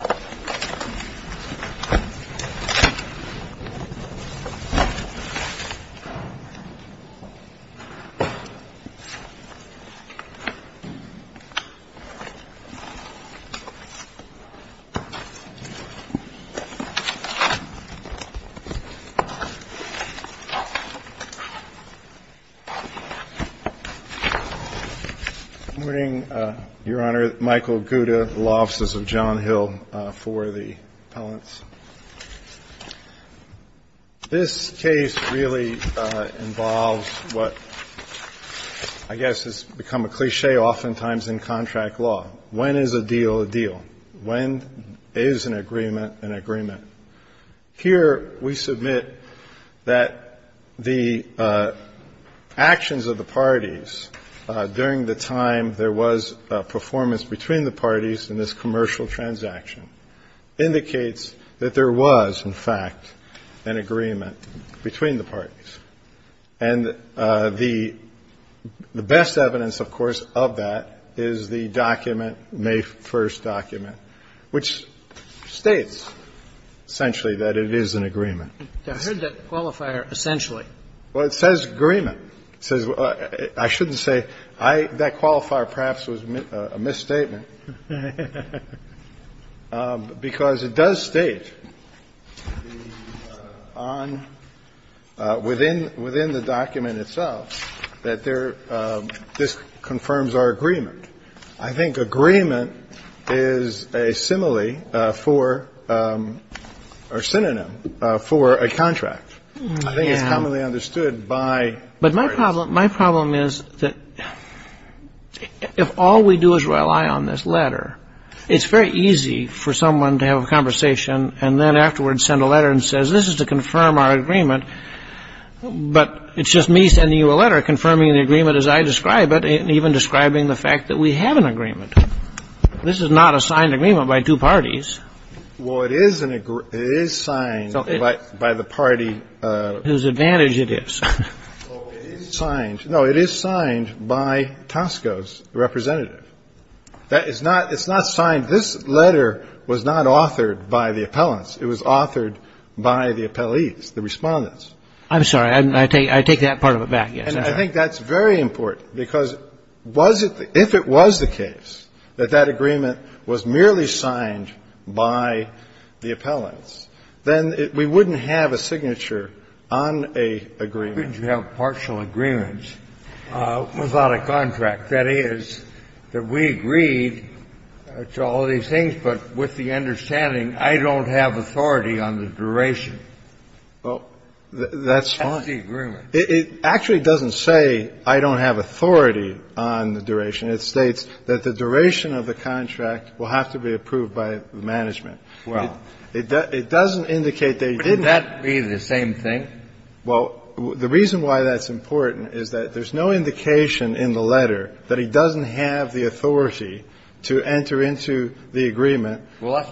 Good morning, Your Honor. Michael Gouda, Law Offices of John Hill. This case really involves what I guess has become a cliché oftentimes in contract law. When is a deal a deal? When is an agreement an agreement? Here, we submit that the actions of the parties during the time there was performance between the parties in this commercial transaction indicates that there was, in fact, an agreement between the parties. And the best evidence, of course, of that is the document, May 1st document, which states essentially that it is an agreement. Kagan I heard that qualifier, essentially. Well, it says agreement. It says I shouldn't say that qualifier perhaps was a misstatement. Because it does state on within the document itself that there this confirms our agreement. I think agreement is a simile for or synonym for a contract. I think it's commonly understood by. But my problem is that if all we do is rely on this letter, it's very easy for someone to have a conversation and then afterwards send a letter and says this is to confirm our agreement. But it's just me sending you a letter confirming the agreement as I describe it and even describing the fact that we have an agreement. This is not a signed agreement by two parties. Well, it is signed by the party. Whose advantage it is. No, it is signed by Tosco's representative. It's not signed. This letter was not authored by the appellants. It was authored by the appellees, the Respondents. I'm sorry. I take that part of it back, yes. And I think that's very important. Because was it the – if it was the case that that agreement was merely signed by the appellants, then it – we wouldn't have a signature on an agreement. We would have partial agreements without a contract. That is, that we agreed to all of these things, but with the understanding I don't have authority on the duration. That's fine. That's the agreement. It actually doesn't say I don't have authority on the duration. It states that the duration of the contract will have to be approved by the management. Well. It doesn't indicate they didn't. But would that be the same thing? Well, the reason why that's important is that there's no indication in the letter that he doesn't have the authority to enter into the agreement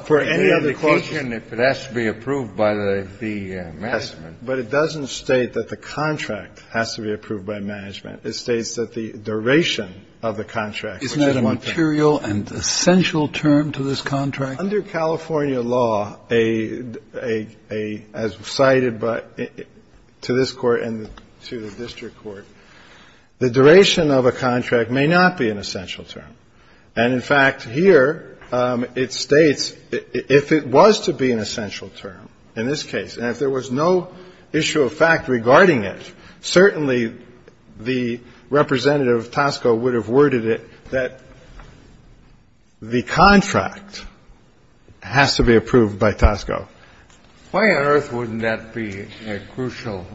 for any other clauses. Well, that's the indication if it has to be approved by the management. But it doesn't state that the contract has to be approved by management. It states that the duration of the contract, which is one thing. Isn't that a material and essential term to this contract? Under California law, a – as cited by – to this Court and to the district court, the duration of a contract may not be an essential term. And, in fact, here it states if it was to be an essential term, in this case, and if there was no issue of fact regarding it, certainly the representative of Tosco would have worded it that the contract has to be approved by Tosco. Why on earth wouldn't that be a crucial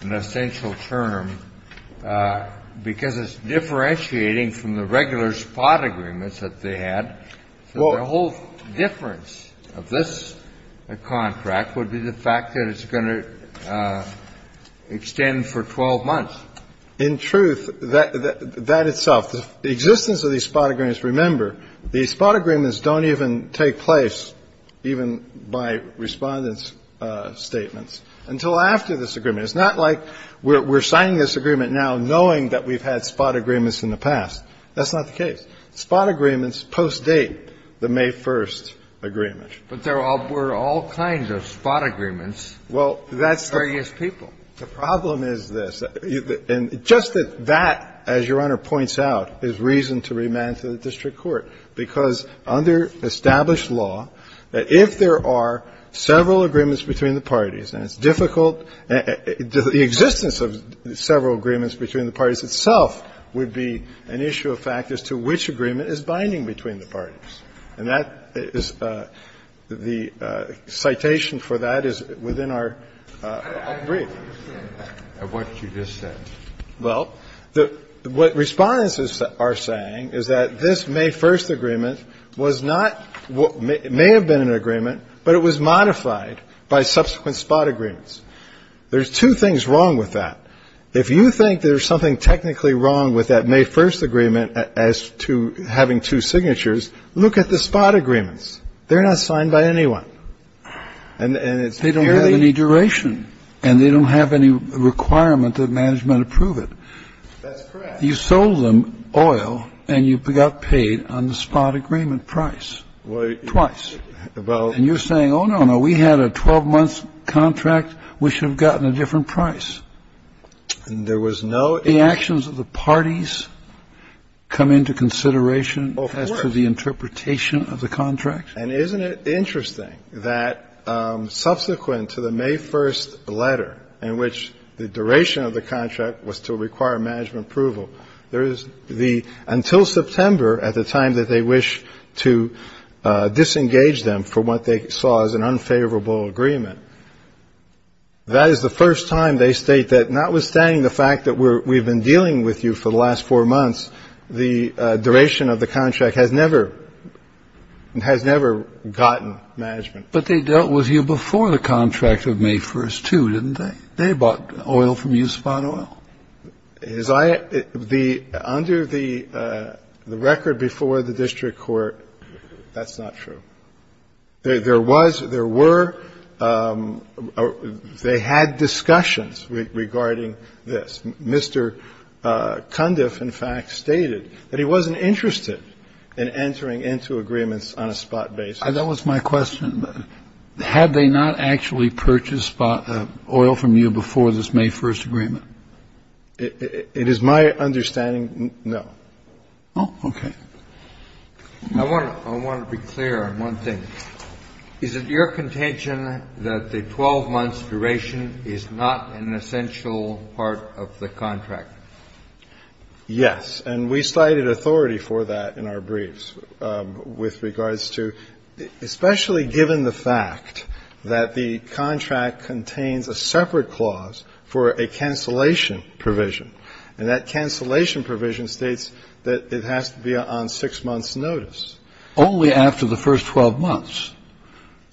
and essential term? Because it's differentiating from the regular spot agreements that they had. So the whole difference of this contract would be the fact that it's going to extend for 12 months. In truth, that itself. The existence of these spot agreements, remember, these spot agreements don't even take place, even by Respondent's statements, until after this agreement. It's not like we're signing this agreement now knowing that we've had spot agreements in the past. That's not the case. Spot agreements postdate the May 1st agreement. But there were all kinds of spot agreements. Well, that's the – For various people. The problem is this. And just that that, as Your Honor points out, is reason to remand to the district court, because under established law, if there are several agreements between the parties, and it's difficult – the existence of several agreements between the parties itself would be an issue of fact as to which agreement is binding between the parties. And that is – the citation for that is within our brief. And what did you just say? Well, what Respondents are saying is that this May 1st agreement was not – may have been an agreement, but it was modified by subsequent spot agreements. There's two things wrong with that. If you think there's something technically wrong with that May 1st agreement as to having two signatures, look at the spot agreements. They're not signed by anyone. And it's fairly – They don't have any duration. And they don't have any requirement that management approve it. That's correct. You sold them oil, and you got paid on the spot agreement price. Twice. Well – And you're saying, oh, no, no, we had a 12-month contract. We should have gotten a different price. There was no – The actions of the parties come into consideration as to the interpretation of the contract. Of course. And isn't it interesting that subsequent to the May 1st letter in which the duration of the contract was to require management approval, there is the – until September wish to disengage them from what they saw as an unfavorable agreement. That is the first time they state that notwithstanding the fact that we've been dealing with you for the last four months, the duration of the contract has never – has never gotten management. But they dealt with you before the contract of May 1st, too, didn't they? They bought oil from you, spot oil. Has I – the – under the record before the district court, that's not true. There was – there were – they had discussions regarding this. Mr. Cundiff, in fact, stated that he wasn't interested in entering into agreements on a spot basis. That was my question. Had they not actually purchased oil from you before this May 1st agreement? It is my understanding, no. Oh, okay. I want to be clear on one thing. Is it your contention that the 12-month duration is not an essential part of the contract? Yes. And we cited authority for that in our briefs with regards to – especially given the fact that the contract contains a separate clause for a cancellation provision. And that cancellation provision states that it has to be on six months' notice. Only after the first 12 months.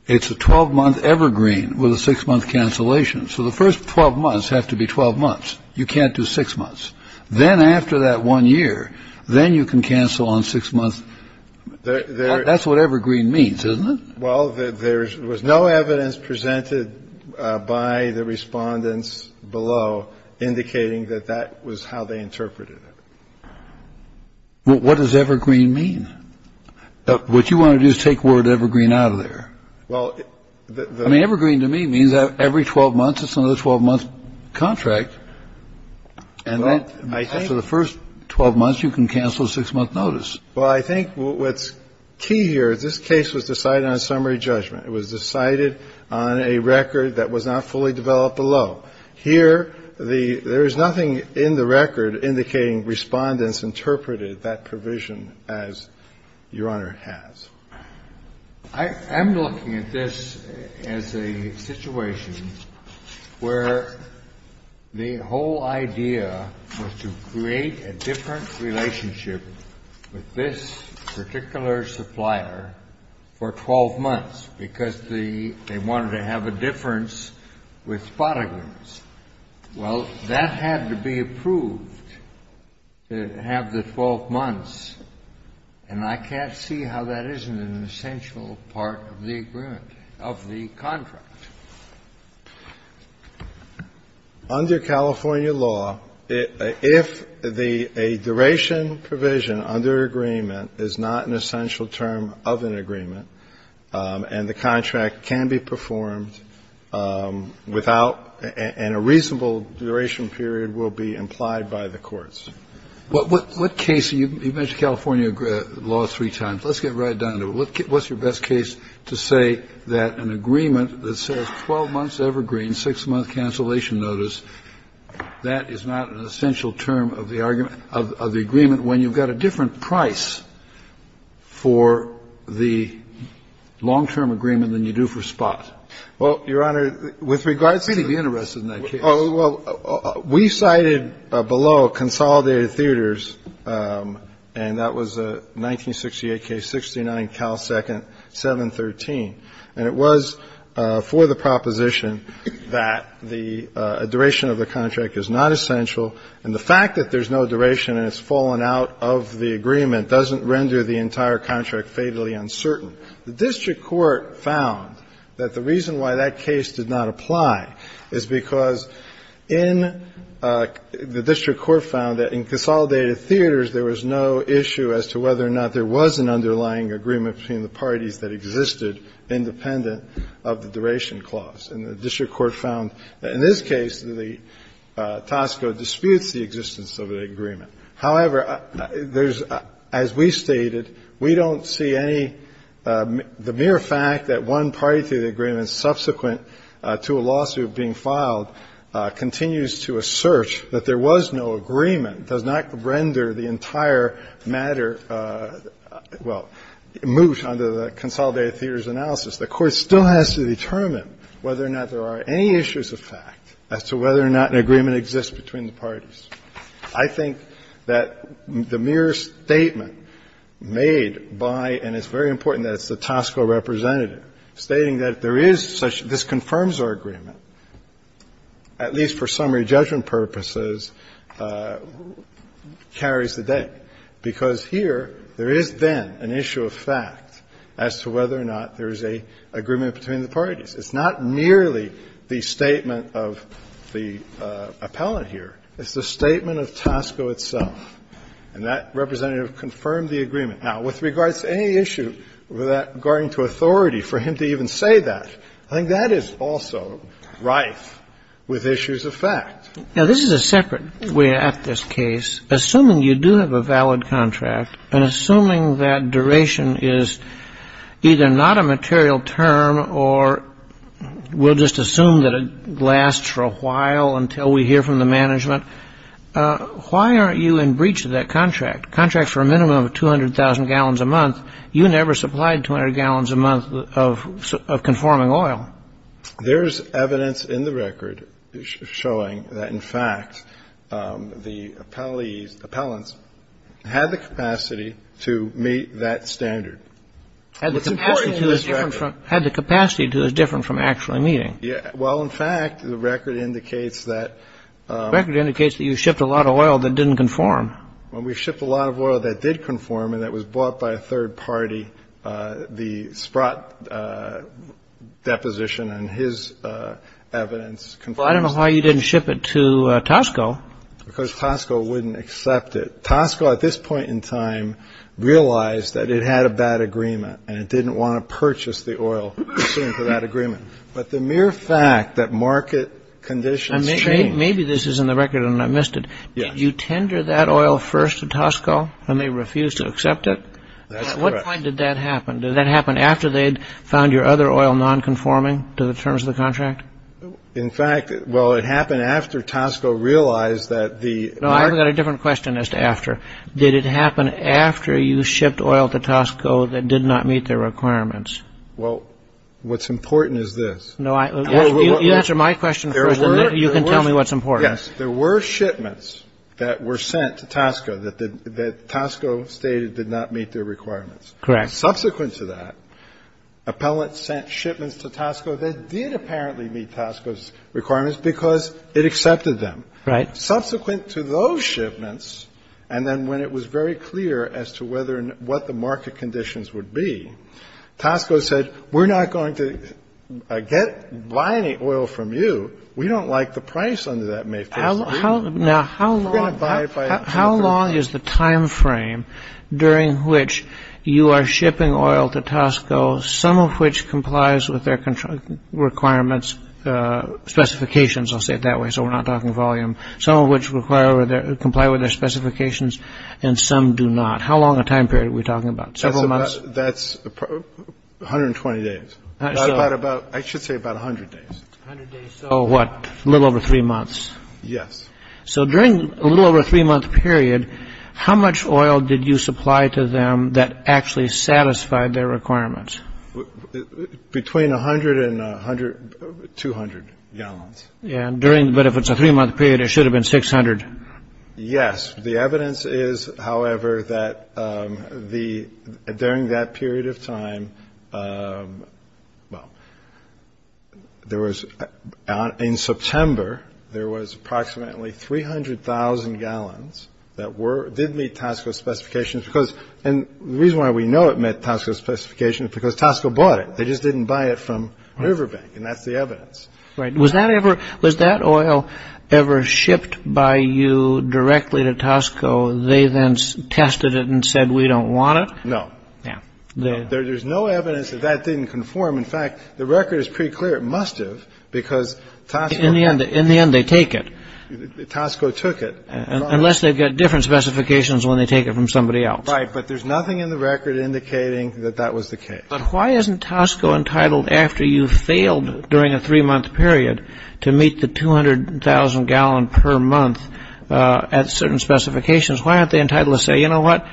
It's a 12-month evergreen with a six-month cancellation. So the first 12 months have to be 12 months. You can't do six months. Then after that one year, then you can cancel on six months. That's what evergreen means, isn't it? Well, there was no evidence presented by the respondents below indicating that that was how they interpreted it. Well, what does evergreen mean? What you want to do is take the word evergreen out of there. Well, the – I mean, evergreen to me means that every 12 months, it's another 12-month contract. And then for the first 12 months, you can cancel a six-month notice. Well, I think what's key here is this case was decided on summary judgment. It was decided on a record that was not fully developed below. Here, the – there is nothing in the record indicating Respondents interpreted that provision as Your Honor has. I'm looking at this as a situation where the whole idea was to create a different relationship with this particular supplier for 12 months because they wanted to have a difference with spotting ones. Well, that had to be approved, to have the 12 months. And I can't see how that isn't an essential part of the agreement, of the contract. Under California law, if the – a duration provision under agreement is not an essential term of an agreement, and the contract can be performed without – and a reasonable duration period will be implied by the courts. But what case – you've mentioned California law three times. Let's get right down to it. What's your best case to say that an agreement that says 12 months evergreen, six-month cancellation notice, that is not an essential term of the agreement when you've got a different price for the long-term agreement than you do for spot? Well, Your Honor, with regards to the – I'd really be interested in that case. Well, we cited below consolidated theaters, and that was a 1968 case, 69, Cal Second, 713. And it was for the proposition that the duration of the contract is not essential, and the fact that there's no duration and it's fallen out of the agreement doesn't render the entire contract fatally uncertain. The district court found that the reason why that case did not apply is because in – the district court found that in consolidated theaters there was no issue as to whether or not there was an underlying agreement between the parties that existed independent of the duration clause. And the district court found in this case that the Tosco disputes the existence of the agreement. However, there's – as we stated, we don't see any – the mere fact that one party to the agreement subsequent to a lawsuit being filed continues to assert that there was no agreement does not render the entire matter – well, moot under the consolidated theaters analysis. The court still has to determine whether or not there are any issues of fact as to whether or not an agreement exists between the parties. I think that the mere statement made by – and it's very important that it's the Tosco representative stating that there is such – this confirms our agreement, at least for summary judgment purposes, carries the day, because here there is then an issue of fact as to whether or not there is an agreement between the parties. It's not merely the statement of the appellant here. It's the statement of Tosco itself. And that representative confirmed the agreement. Now, with regards to any issue regarding to authority, for him to even say that, I think that is also rife with issues of fact. Now, this is a separate way at this case. Assuming you do have a valid contract and assuming that duration is either not a material term or we'll just assume that it lasts for a while until we hear from the management, why aren't you in breach of that contract, contracts for a minimum of 200,000 gallons a month? You never supplied 200 gallons a month of conforming oil. There's evidence in the record showing that, in fact, the appellees, the appellants had the capacity to meet that standard. It's important in this record. Had the capacity to is different from actually meeting. Well, in fact, the record indicates that – The record indicates that you shipped a lot of oil that didn't conform. Well, we shipped a lot of oil that did conform and that was bought by a third party. The Sprott deposition and his evidence confirms that. Well, I don't know why you didn't ship it to Tosco. Because Tosco wouldn't accept it. Tosco, at this point in time, realized that it had a bad agreement and it didn't want to purchase the oil pursuant to that agreement. But the mere fact that market conditions changed – Maybe this is in the record and I missed it. Did you tender that oil first to Tosco and they refused to accept it? That's correct. At what point did that happen? Did that happen after they had found your other oil nonconforming to the terms of the contract? In fact, well, it happened after Tosco realized that the – No, I've got a different question as to after. Did it happen after you shipped oil to Tosco that did not meet their requirements? Well, what's important is this. You answer my question first and then you can tell me what's important. Yes. There were shipments that were sent to Tosco that Tosco stated did not meet their requirements. Correct. Subsequent to that, Appellant sent shipments to Tosco that did apparently meet Tosco's requirements because it accepted them. Right. Subsequent to those shipments, and then when it was very clear as to whether and what the market conditions would be, Tosco said, we're not going to buy any oil from you. We don't like the price under that MAFTA. Now, how long is the time frame during which you are shipping oil to Tosco, some of which complies with their requirements, specifications, I'll say it that way, so we're not talking volume, some of which comply with their specifications and some do not. How long a time period are we talking about? Several months? That's 120 days. I should say about 100 days. 100 days, so what, a little over three months? Yes. So during a little over a three-month period, how much oil did you supply to them that actually satisfied their requirements? Between 100 and 200 gallons. But if it's a three-month period, it should have been 600. Yes. The evidence is, however, that during that period of time, well, in September, there was approximately 300,000 gallons that did meet Tosco's specifications, and the reason why we know it met Tosco's specifications is because Tosco bought it. They just didn't buy it from Riverbank, and that's the evidence. Right. Was that oil ever shipped by you directly to Tosco? They then tested it and said, we don't want it? No. No. There's no evidence that that didn't conform. In fact, the record is pretty clear. It must have because Tosco… In the end, they take it. Tosco took it. Unless they've got different specifications when they take it from somebody else. Right, but there's nothing in the record indicating that that was the case. But why isn't Tosco entitled, after you've failed during a three-month period, to meet the 200,000 gallon per month at certain specifications? Why aren't they entitled to say, you know what,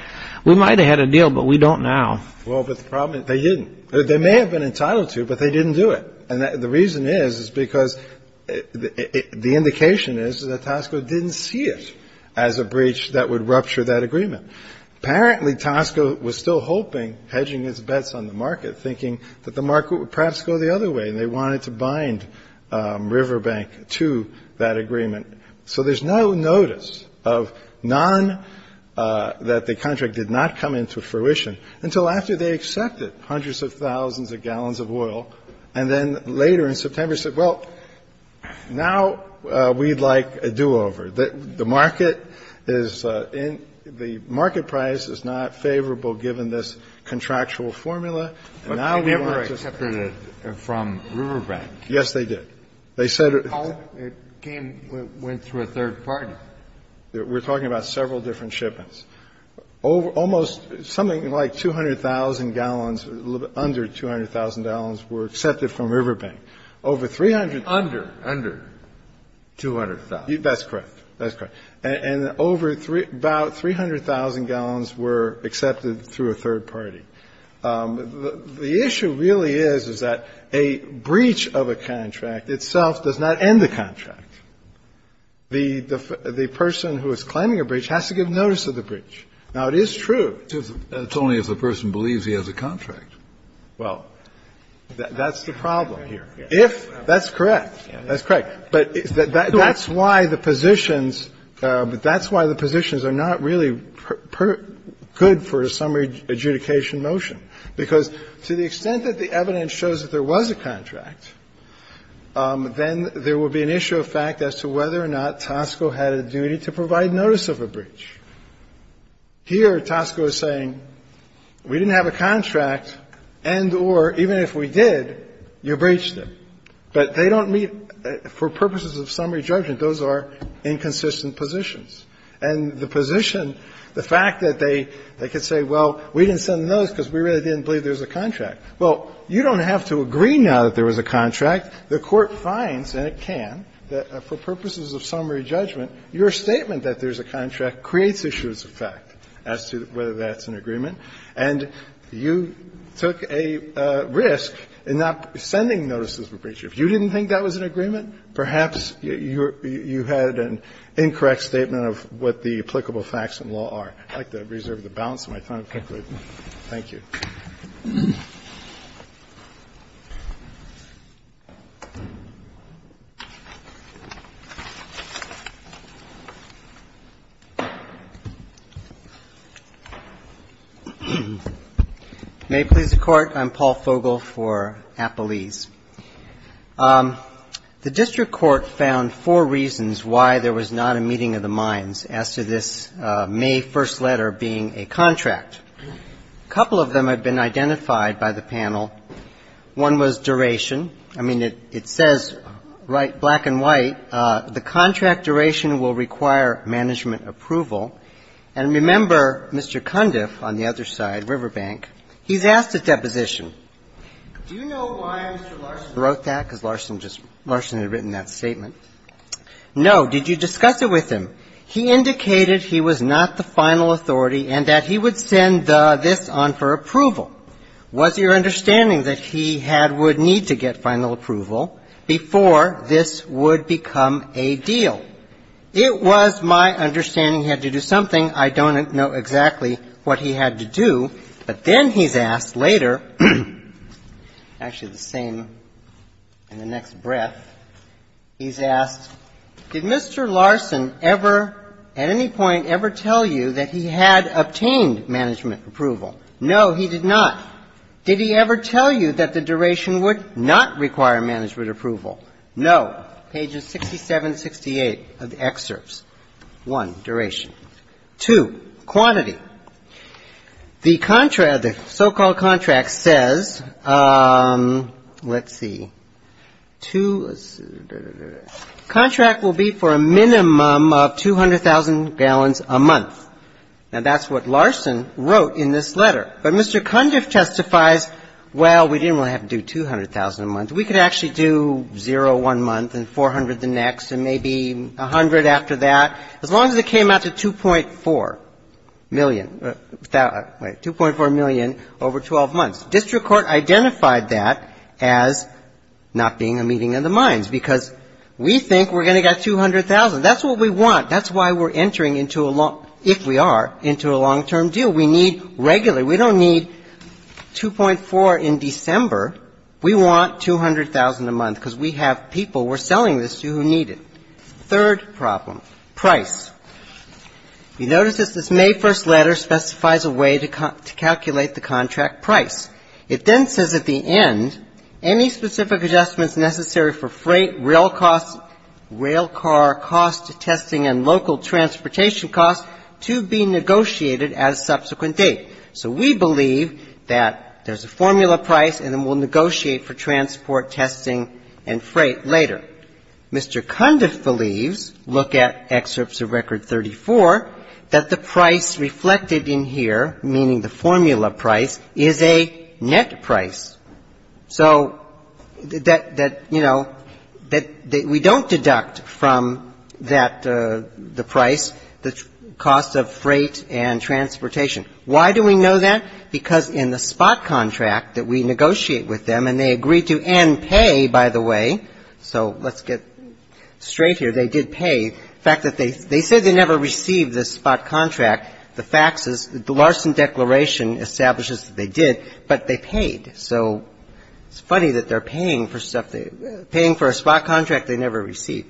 we might have had a deal, but we don't now? Well, but the problem is they didn't. They may have been entitled to, but they didn't do it, and the reason is is because the indication is that Tosco didn't see it as a breach that would rupture that agreement. Apparently, Tosco was still hoping, hedging its bets on the market, thinking that the market would perhaps go the other way, and they wanted to bind Riverbank to that agreement. So there's no notice of none that the contract did not come into fruition until after they accepted hundreds of thousands of gallons of oil, and then later in September said, well, now we'd like a do-over. The market is in the market price is not favorable given this contractual formula. And now we want to see. But they never accepted it from Riverbank. Yes, they did. They said it. It came, went through a third party. We're talking about several different shipments. Almost something like 200,000 gallons, under 200,000 gallons were accepted from Riverbank. Over 300,000. Under, under 200,000. That's correct. That's correct. And over about 300,000 gallons were accepted through a third party. The issue really is, is that a breach of a contract itself does not end the contract. The person who is claiming a breach has to give notice of the breach. Now, it is true. It's only if the person believes he has a contract. Well, that's the problem here. If, that's correct. That's correct. But that's why the positions are not really good for a summary adjudication motion. Because to the extent that the evidence shows that there was a contract, then there would be an issue of fact as to whether or not Tosco had a duty to provide notice of a breach. Here, Tosco is saying, we didn't have a contract, and or, even if we did, you breached it. But they don't meet, for purposes of summary judgment, those are inconsistent positions. And the position, the fact that they, they could say, well, we didn't send the notice because we really didn't believe there was a contract. Well, you don't have to agree now that there was a contract. The Court finds, and it can, that for purposes of summary judgment, your statement that there's a contract creates issues of fact as to whether that's an agreement. And you took a risk in not sending notices of a breach. If you didn't think that was an agreement, perhaps you had an incorrect statement of what the applicable facts in law are. I'd like to reserve the balance of my time, if I could. Thank you. May it please the Court. I'm Paul Fogel for Appalese. The district court found four reasons why there was not a meeting of the minds as to this May First letter being a contract. A couple of them have been identified by the panel. One was duration. I mean, it, it says right, black and white, the contract duration will require management approval. And remember, Mr. Cundiff on the other side, Riverbank, he's asked a deposition. Do you know why Mr. Larson wrote that? Because Larson just, Larson had written that statement. No. Did you discuss it with him? He indicated he was not the final authority and that he would send this on for approval. Was your understanding that he had would need to get final approval before this would become a deal? It was my understanding he had to do something. I don't know exactly what he had to do. But then he's asked later, actually the same in the next breath, he's asked, did Mr. Larson ever, at any point, ever tell you that he had obtained management approval? No, he did not. Did he ever tell you that the duration would not require management approval? No. Pages 67 to 68 of the excerpts. One, duration. Two, quantity. The so-called contract says, let's see, two, contract will be for a minimum of 200,000 gallons a month. Now, that's what Larson wrote in this letter. But Mr. Cundiff testifies, well, we didn't really have to do 200,000 a month. We could actually do zero one month and 400 the next and maybe 100 after that, as long as it came out to 2.4 million, 2.4 million over 12 months. District court identified that as not being a meeting of the minds because we think we're going to get 200,000. That's what we want. That's why we're entering into a long, if we are, into a long-term deal. We need regular. We don't need 2.4 in December. We want 200,000 a month because we have people we're selling this to who need it. Third problem, price. You notice that this May 1st letter specifies a way to calculate the contract price. It then says at the end, any specific adjustments necessary for freight, rail costs, rail car costs, testing, and local transportation costs to be negotiated at a subsequent date. So we believe that there's a formula price and then we'll negotiate for transport, testing, and freight later. Mr. Cundiff believes, look at excerpts of Record 34, that the price reflected in here, meaning the formula price, is a net price. So that, you know, we don't deduct from that the price, the cost of freight and transportation. Why do we know that? Because in the spot contract that we negotiate with them, and they agree to end pay, by the way. So let's get straight here. They did pay. In fact, they said they never received the spot contract, the faxes. The Larson Declaration establishes that they did, but they paid. So it's funny that they're paying for stuff, paying for a spot contract they never received.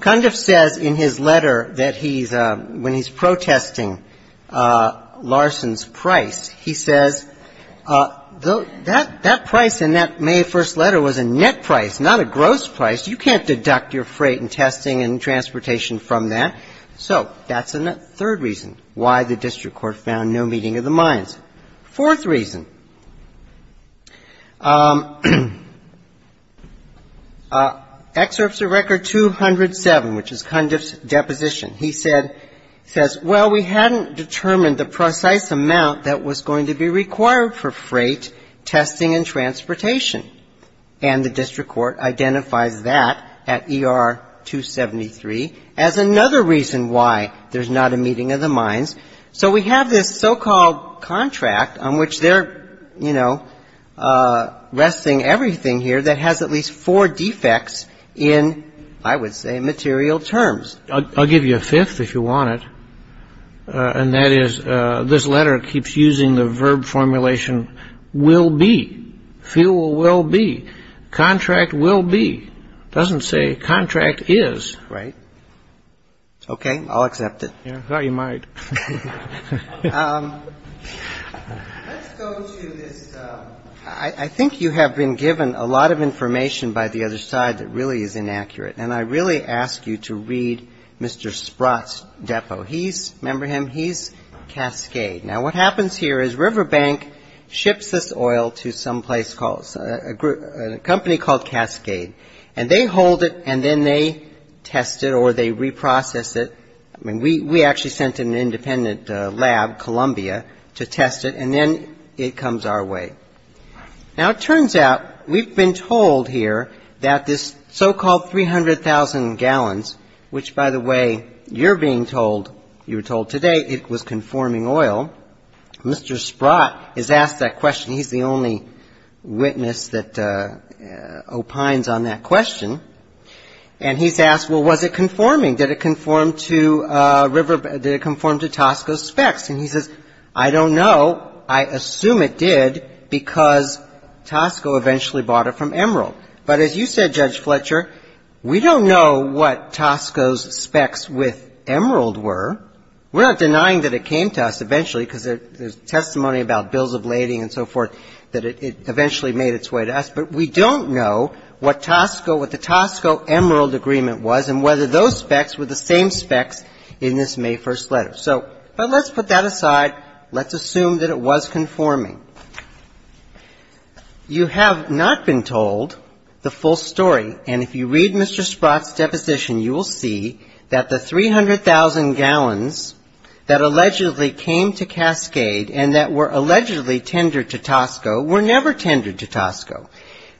Cundiff says in his letter that he's, when he's protesting Larson's price, he says, that price in that May 1st letter was a net price, not a gross price. You can't deduct your freight and testing and transportation from that. So that's a third reason why the district court found no meeting of the minds. Fourth reason. Excerpts of Record 207, which is Cundiff's deposition. He says, well, we hadn't determined the precise amount that was going to be required for freight, testing and transportation. And the district court identifies that at ER 273 as another reason why there's not a meeting of the minds. So we have this so-called contract on which they're, you know, resting everything here that has at least four defects in, I would say, material terms. I'll give you a fifth if you want it. And that is this letter keeps using the verb formulation will be. Fuel will be. Contract will be. Doesn't say contract is. Right. OK, I'll accept it. I thought you might. Let's go to this. I think you have been given a lot of information by the other side that really is inaccurate. And I really ask you to read Mr. Sprott's depo. He's, remember him, he's Cascade. Now, what happens here is Riverbank ships this oil to someplace called, a company called Cascade. And they hold it and then they test it or they reprocess it. I mean, we actually sent an independent lab, Columbia, to test it. And then it comes our way. Now, it turns out we've been told here that this so-called 300,000 gallons, which, by the way, you're being told, you were told today it was conforming oil. Mr. Sprott is asked that question. He's the only witness that opines on that question. And he's asked, well, was it conforming? Did it conform to Tosco's specs? And he says, I don't know. I assume it did because Tosco eventually bought it from Emerald. But as you said, Judge Fletcher, we don't know what Tosco's specs with Emerald were. We're not denying that it came to us eventually because there's testimony about bills of lading and so forth, that it eventually made its way to us. But we don't know what Tosco, what the Tosco Emerald agreement was and whether those specs were the same specs in this May 1st letter. So, but let's put that aside. Let's assume that it was conforming. You have not been told the full story. And if you read Mr. Sprott's deposition, you will see that the 300,000 gallons that allegedly came to Cascade and that were allegedly tendered to Tosco were never tendered to Tosco.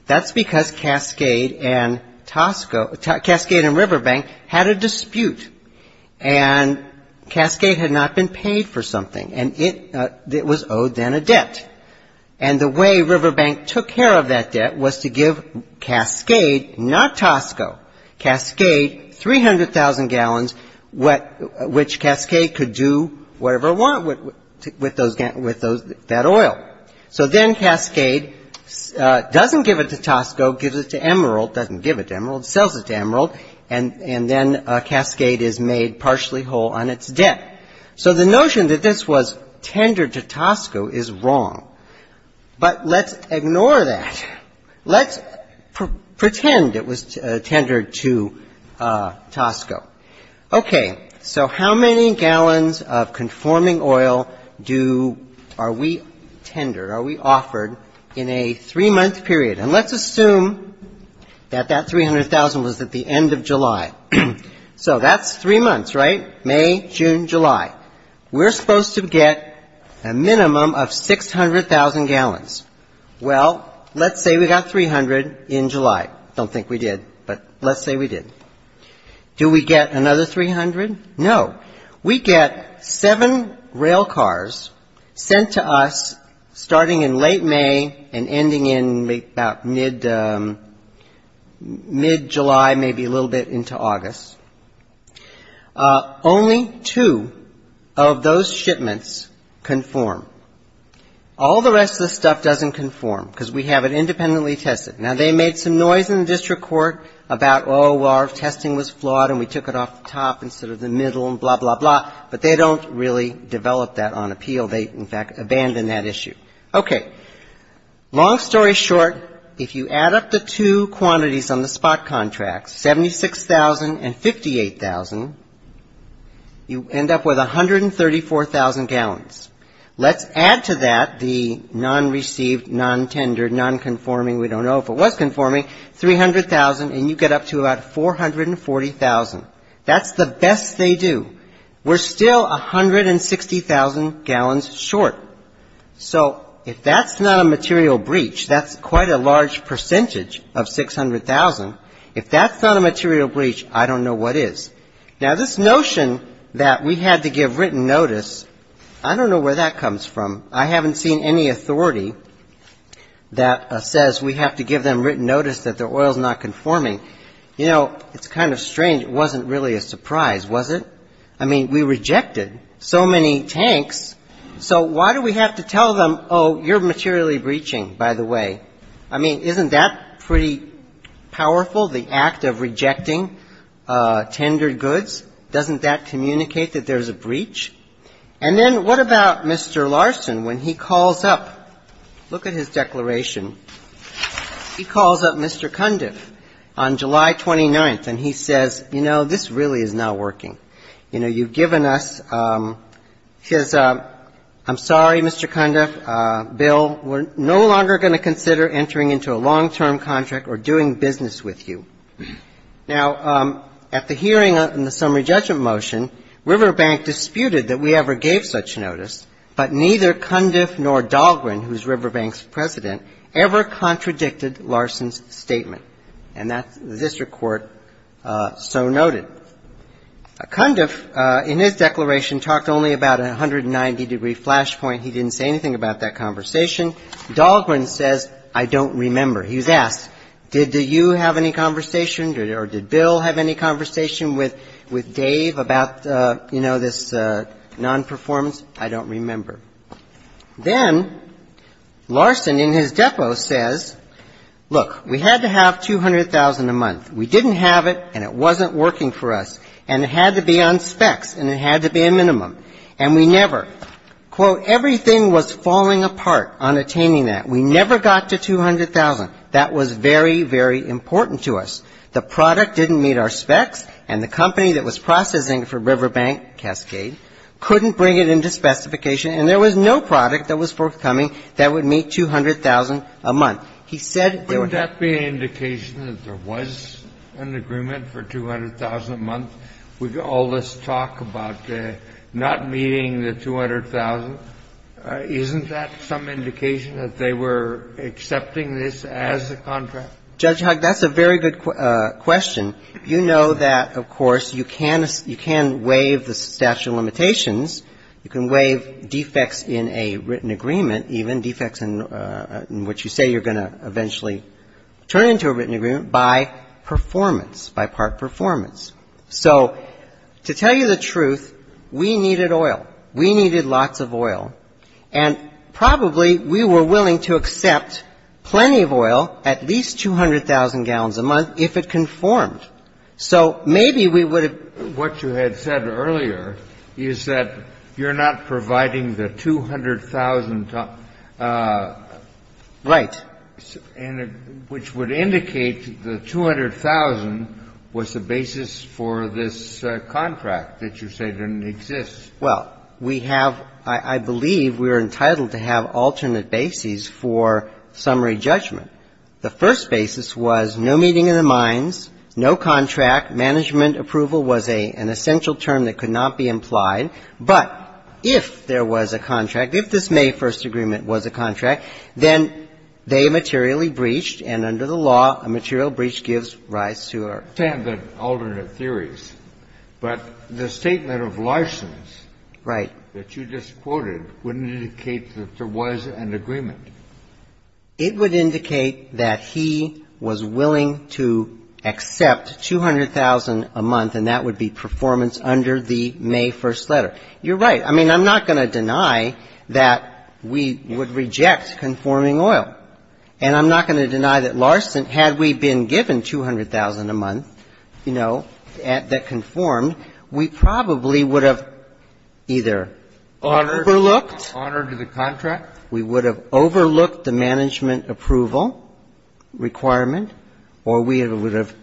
That's because Cascade and Tosco, Cascade and Riverbank had a dispute. And Cascade had not been paid for something. And it was owed then a debt. And the way Riverbank took care of that debt was to give Cascade, not Tosco, Cascade 300,000 gallons, which Cascade could do whatever it wanted with that oil. So then Cascade doesn't give it to Tosco, gives it to Emerald, doesn't give it to Emerald, sells it to Emerald, and then Cascade is made partially whole on its debt. So the notion that this was tendered to Tosco is wrong. But let's ignore that. Let's pretend it was tendered to Tosco. Okay. So how many gallons of conforming oil do we tender, are we offered in a three-month period? And let's assume that that 300,000 was at the end of July. So that's three months, right? May, June, July. We're supposed to get a minimum of 600,000 gallons. Well, let's say we got 300 in July. Don't think we did, but let's say we did. Do we get another 300? No. We get seven railcars sent to us starting in late May and ending in about mid-July, maybe a little bit into August. Only two of those shipments conform. All the rest of the stuff doesn't conform because we have it independently tested. Now, they made some noise in the district court about, oh, our testing was flawed and we took it off the top instead of the middle and blah, blah, blah, but they don't really develop that on appeal. They, in fact, abandon that issue. Okay. Long story short, if you add up the two quantities on the spot contracts, 76,000 and 58,000, you end up with 134,000 gallons. Let's add to that the non-received, non-tendered, non-conforming, we don't know if it was conforming, 300,000 and you get up to about 440,000. That's the best they do. We're still 160,000 gallons short. So if that's not a material breach, that's quite a large percentage of 600,000. If that's not a material breach, I don't know what is. Now, this notion that we had to give written notice, I don't know where that comes from. I haven't seen any authority that says we have to give them written notice that their oil is not conforming. You know, it's kind of strange. It wasn't really a surprise, was it? I mean, we rejected so many tanks, so why do we have to tell them, oh, you're materially breaching, by the way? I mean, isn't that pretty powerful, the act of rejecting tendered goods? Doesn't that communicate that there's a breach? And then what about Mr. Larson when he calls up? Look at his declaration. He calls up Mr. Cundiff on July 29th and he says, you know, this really is not working. You know, you've given us his, I'm sorry, Mr. Cundiff, Bill, we're no longer going to consider entering into a long-term contract or doing business with you. Now, at the hearing in the summary judgment motion, Riverbank disputed that we ever gave such notice, but neither Cundiff nor Dahlgren, who's Riverbank's president, ever contradicted Larson's statement. And that's the district court so noted. Cundiff, in his declaration, talked only about a 190-degree flashpoint. He didn't say anything about that conversation. Dahlgren says, I don't remember. He was asked, did you have any conversation or did Bill have any conversation with Dave about, you know, this nonperformance? I don't remember. Then Larson in his depo says, look, we had to have $200,000 a month. We didn't have it, and it wasn't working for us. And it had to be on specs, and it had to be a minimum. And we never, quote, everything was falling apart on attaining that. We never got to $200,000. That was very, very important to us. The product didn't meet our specs, and the company that was processing for Riverbank, Cascade, couldn't bring it into specification, and there was no product that was forthcoming that would meet $200,000 a month. He said there were Kennedy. Wouldn't that be an indication that there was an agreement for $200,000 a month? All this talk about not meeting the $200,000, isn't that some indication that they were accepting this as a contract? Judge Hug, that's a very good question. You know that, of course, you can waive the statute of limitations. You can waive defects in a written agreement, even defects in which you say you're going to eventually turn into a written agreement by performance, by part performance. So to tell you the truth, we needed oil. We needed lots of oil. And probably we were willing to accept plenty of oil, at least 200,000 gallons a month, if it conformed. So maybe we would have ---- What you had said earlier is that you're not providing the 200,000. Right. And which would indicate the 200,000 was the basis for this contract that you say didn't exist. Well, we have ---- I believe we are entitled to have alternate bases for summary judgment. The first basis was no meeting of the minds, no contract. Management approval was an essential term that could not be implied. But if there was a contract, if this May 1st agreement was a contract, then they materially breached, and under the law, a material breach gives rise to a ---- I understand the alternate theories. But the statement of license ---- Right. ----that you just quoted wouldn't indicate that there was an agreement. It would indicate that he was willing to accept 200,000 a month, and that would be performance under the May 1st letter. You're right. I mean, I'm not going to deny that we would reject conforming oil. And I'm not going to deny that Larsen, had we been given 200,000 a month, you know, that conformed, we probably would have either overlooked ---- Honored the contract. We would have overlooked the management approval requirement, or we would have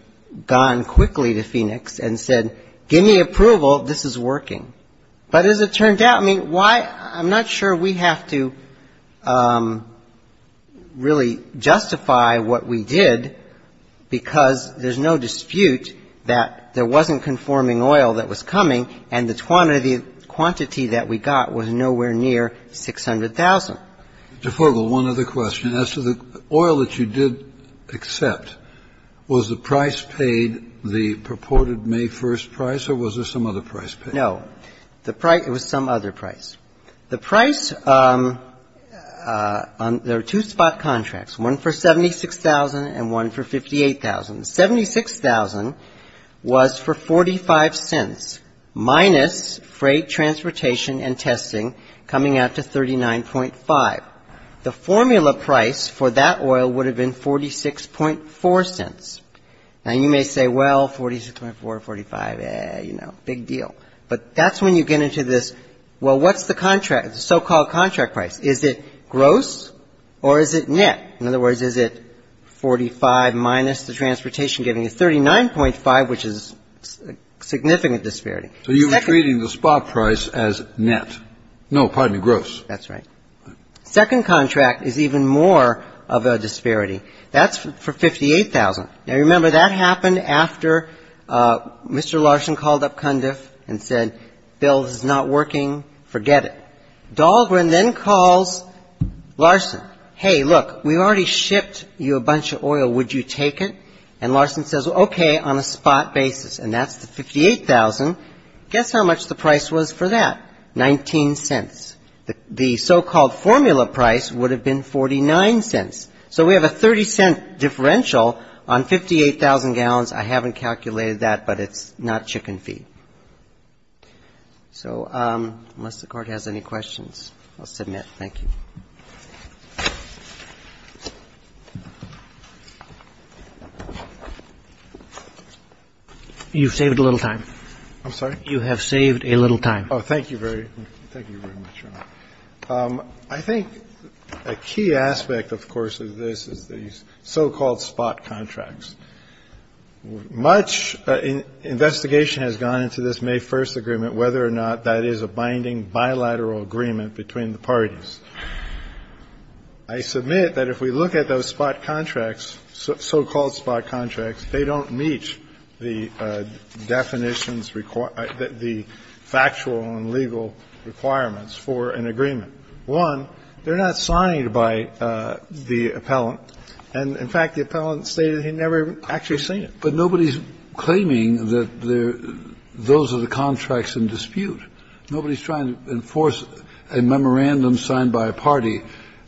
gone quickly to Phoenix and said, give me approval, this is working. But as it turned out, I mean, why ---- I'm not sure we have to really justify what we did, because there's no dispute that there wasn't conforming oil that was coming, and the quantity that we got was nowhere near 600,000. Mr. Fargo, one other question. As to the oil that you did accept, was the price paid, the purported May 1st price, or was there some other price paid? No. The price ---- it was some other price. The price on ---- there are two spot contracts, one for 76,000 and one for 58,000. 76,000 was for 45 cents minus freight transportation and testing coming out to 39.5. The formula price for that oil would have been 46.4 cents. Now, you may say, well, 46.4, 45, you know, big deal. But that's when you get into this, well, what's the contract, the so-called contract price? Is it gross or is it net? In other words, is it 45 minus the transportation giving you 39.5, which is a significant disparity. So you were treating the spot price as net. No, pardon me, gross. That's right. Second contract is even more of a disparity. That's for 58,000. Now, remember, that happened after Mr. Larson called up Cundiff and said, Bill, this is not working, forget it. Dahlgren then calls Larson. Hey, look, we already shipped you a bunch of oil. Would you take it? And Larson says, okay, on a spot basis. And that's the 58,000. Guess how much the price was for that? 19 cents. The so-called formula price would have been 49 cents. So we have a 30-cent differential on 58,000 gallons. I haven't calculated that, but it's not chicken feed. So unless the Court has any questions, I'll submit. Thank you. You've saved a little time. I'm sorry? You have saved a little time. Oh, thank you very much, Your Honor. I think a key aspect, of course, of this is the so-called spot contracts. Much investigation has gone into this May 1st agreement, whether or not that is a binding bilateral agreement between the parties. I submit that if we look at those spot contracts, so-called spot contracts, they don't meet the definitions, the factual and legal requirements for an agreement. One, they're not signed by the appellant. And, in fact, the appellant stated he'd never actually seen it. But nobody's claiming that those are the contracts in dispute. Nobody's trying to enforce a memorandum signed by a party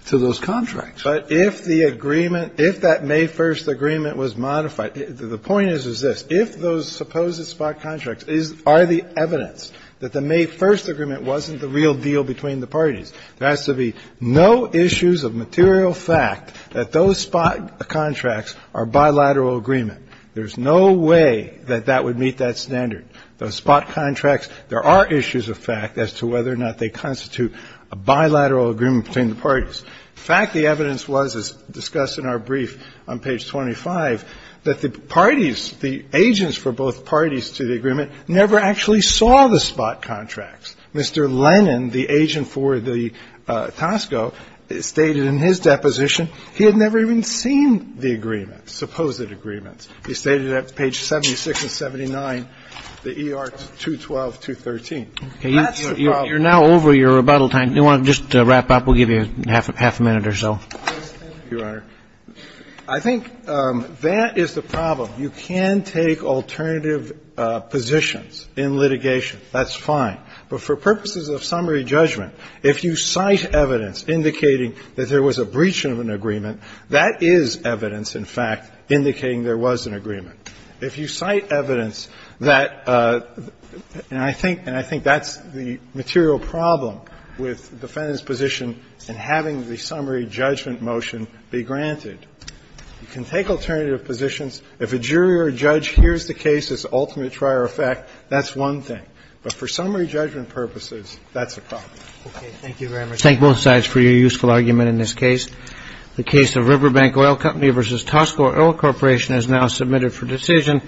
to those contracts. But if the agreement, if that May 1st agreement was modified, the point is, is this. If those supposed spot contracts are the evidence that the May 1st agreement wasn't the real deal between the parties, there has to be no issues of material fact that those spot contracts are bilateral agreement. There's no way that that would meet that standard. Those spot contracts, there are issues of fact as to whether or not they constitute a bilateral agreement between the parties. In fact, the evidence was, as discussed in our brief on page 25, that the parties, the agents for both parties to the agreement, never actually saw the spot contracts. Mr. Lennon, the agent for the Tosco, stated in his deposition he had never even seen the agreement, supposed agreements. He stated that on page 76 and 79, the ER 212, 213. That's the problem. You're now over your rebuttal time. Do you want to just wrap up? We'll give you half a minute or so. Thank you, Your Honor. I think that is the problem. You can take alternative positions in litigation. That's fine. But for purposes of summary judgment, if you cite evidence indicating that there was a breach of an agreement, that is evidence, in fact, indicating there was an agreement. If you cite evidence that the – and I think that's the material problem with the defendant's position in having the summary judgment motion be granted. You can take alternative positions. If a jury or a judge hears the case as ultimate trier effect, that's one thing. But for summary judgment purposes, that's a problem. Okay. Thank you very much. I thank both sides for your useful argument in this case. The case of Riverbank Oil Company v. Tosco Oil Corporation is now submitted for decision.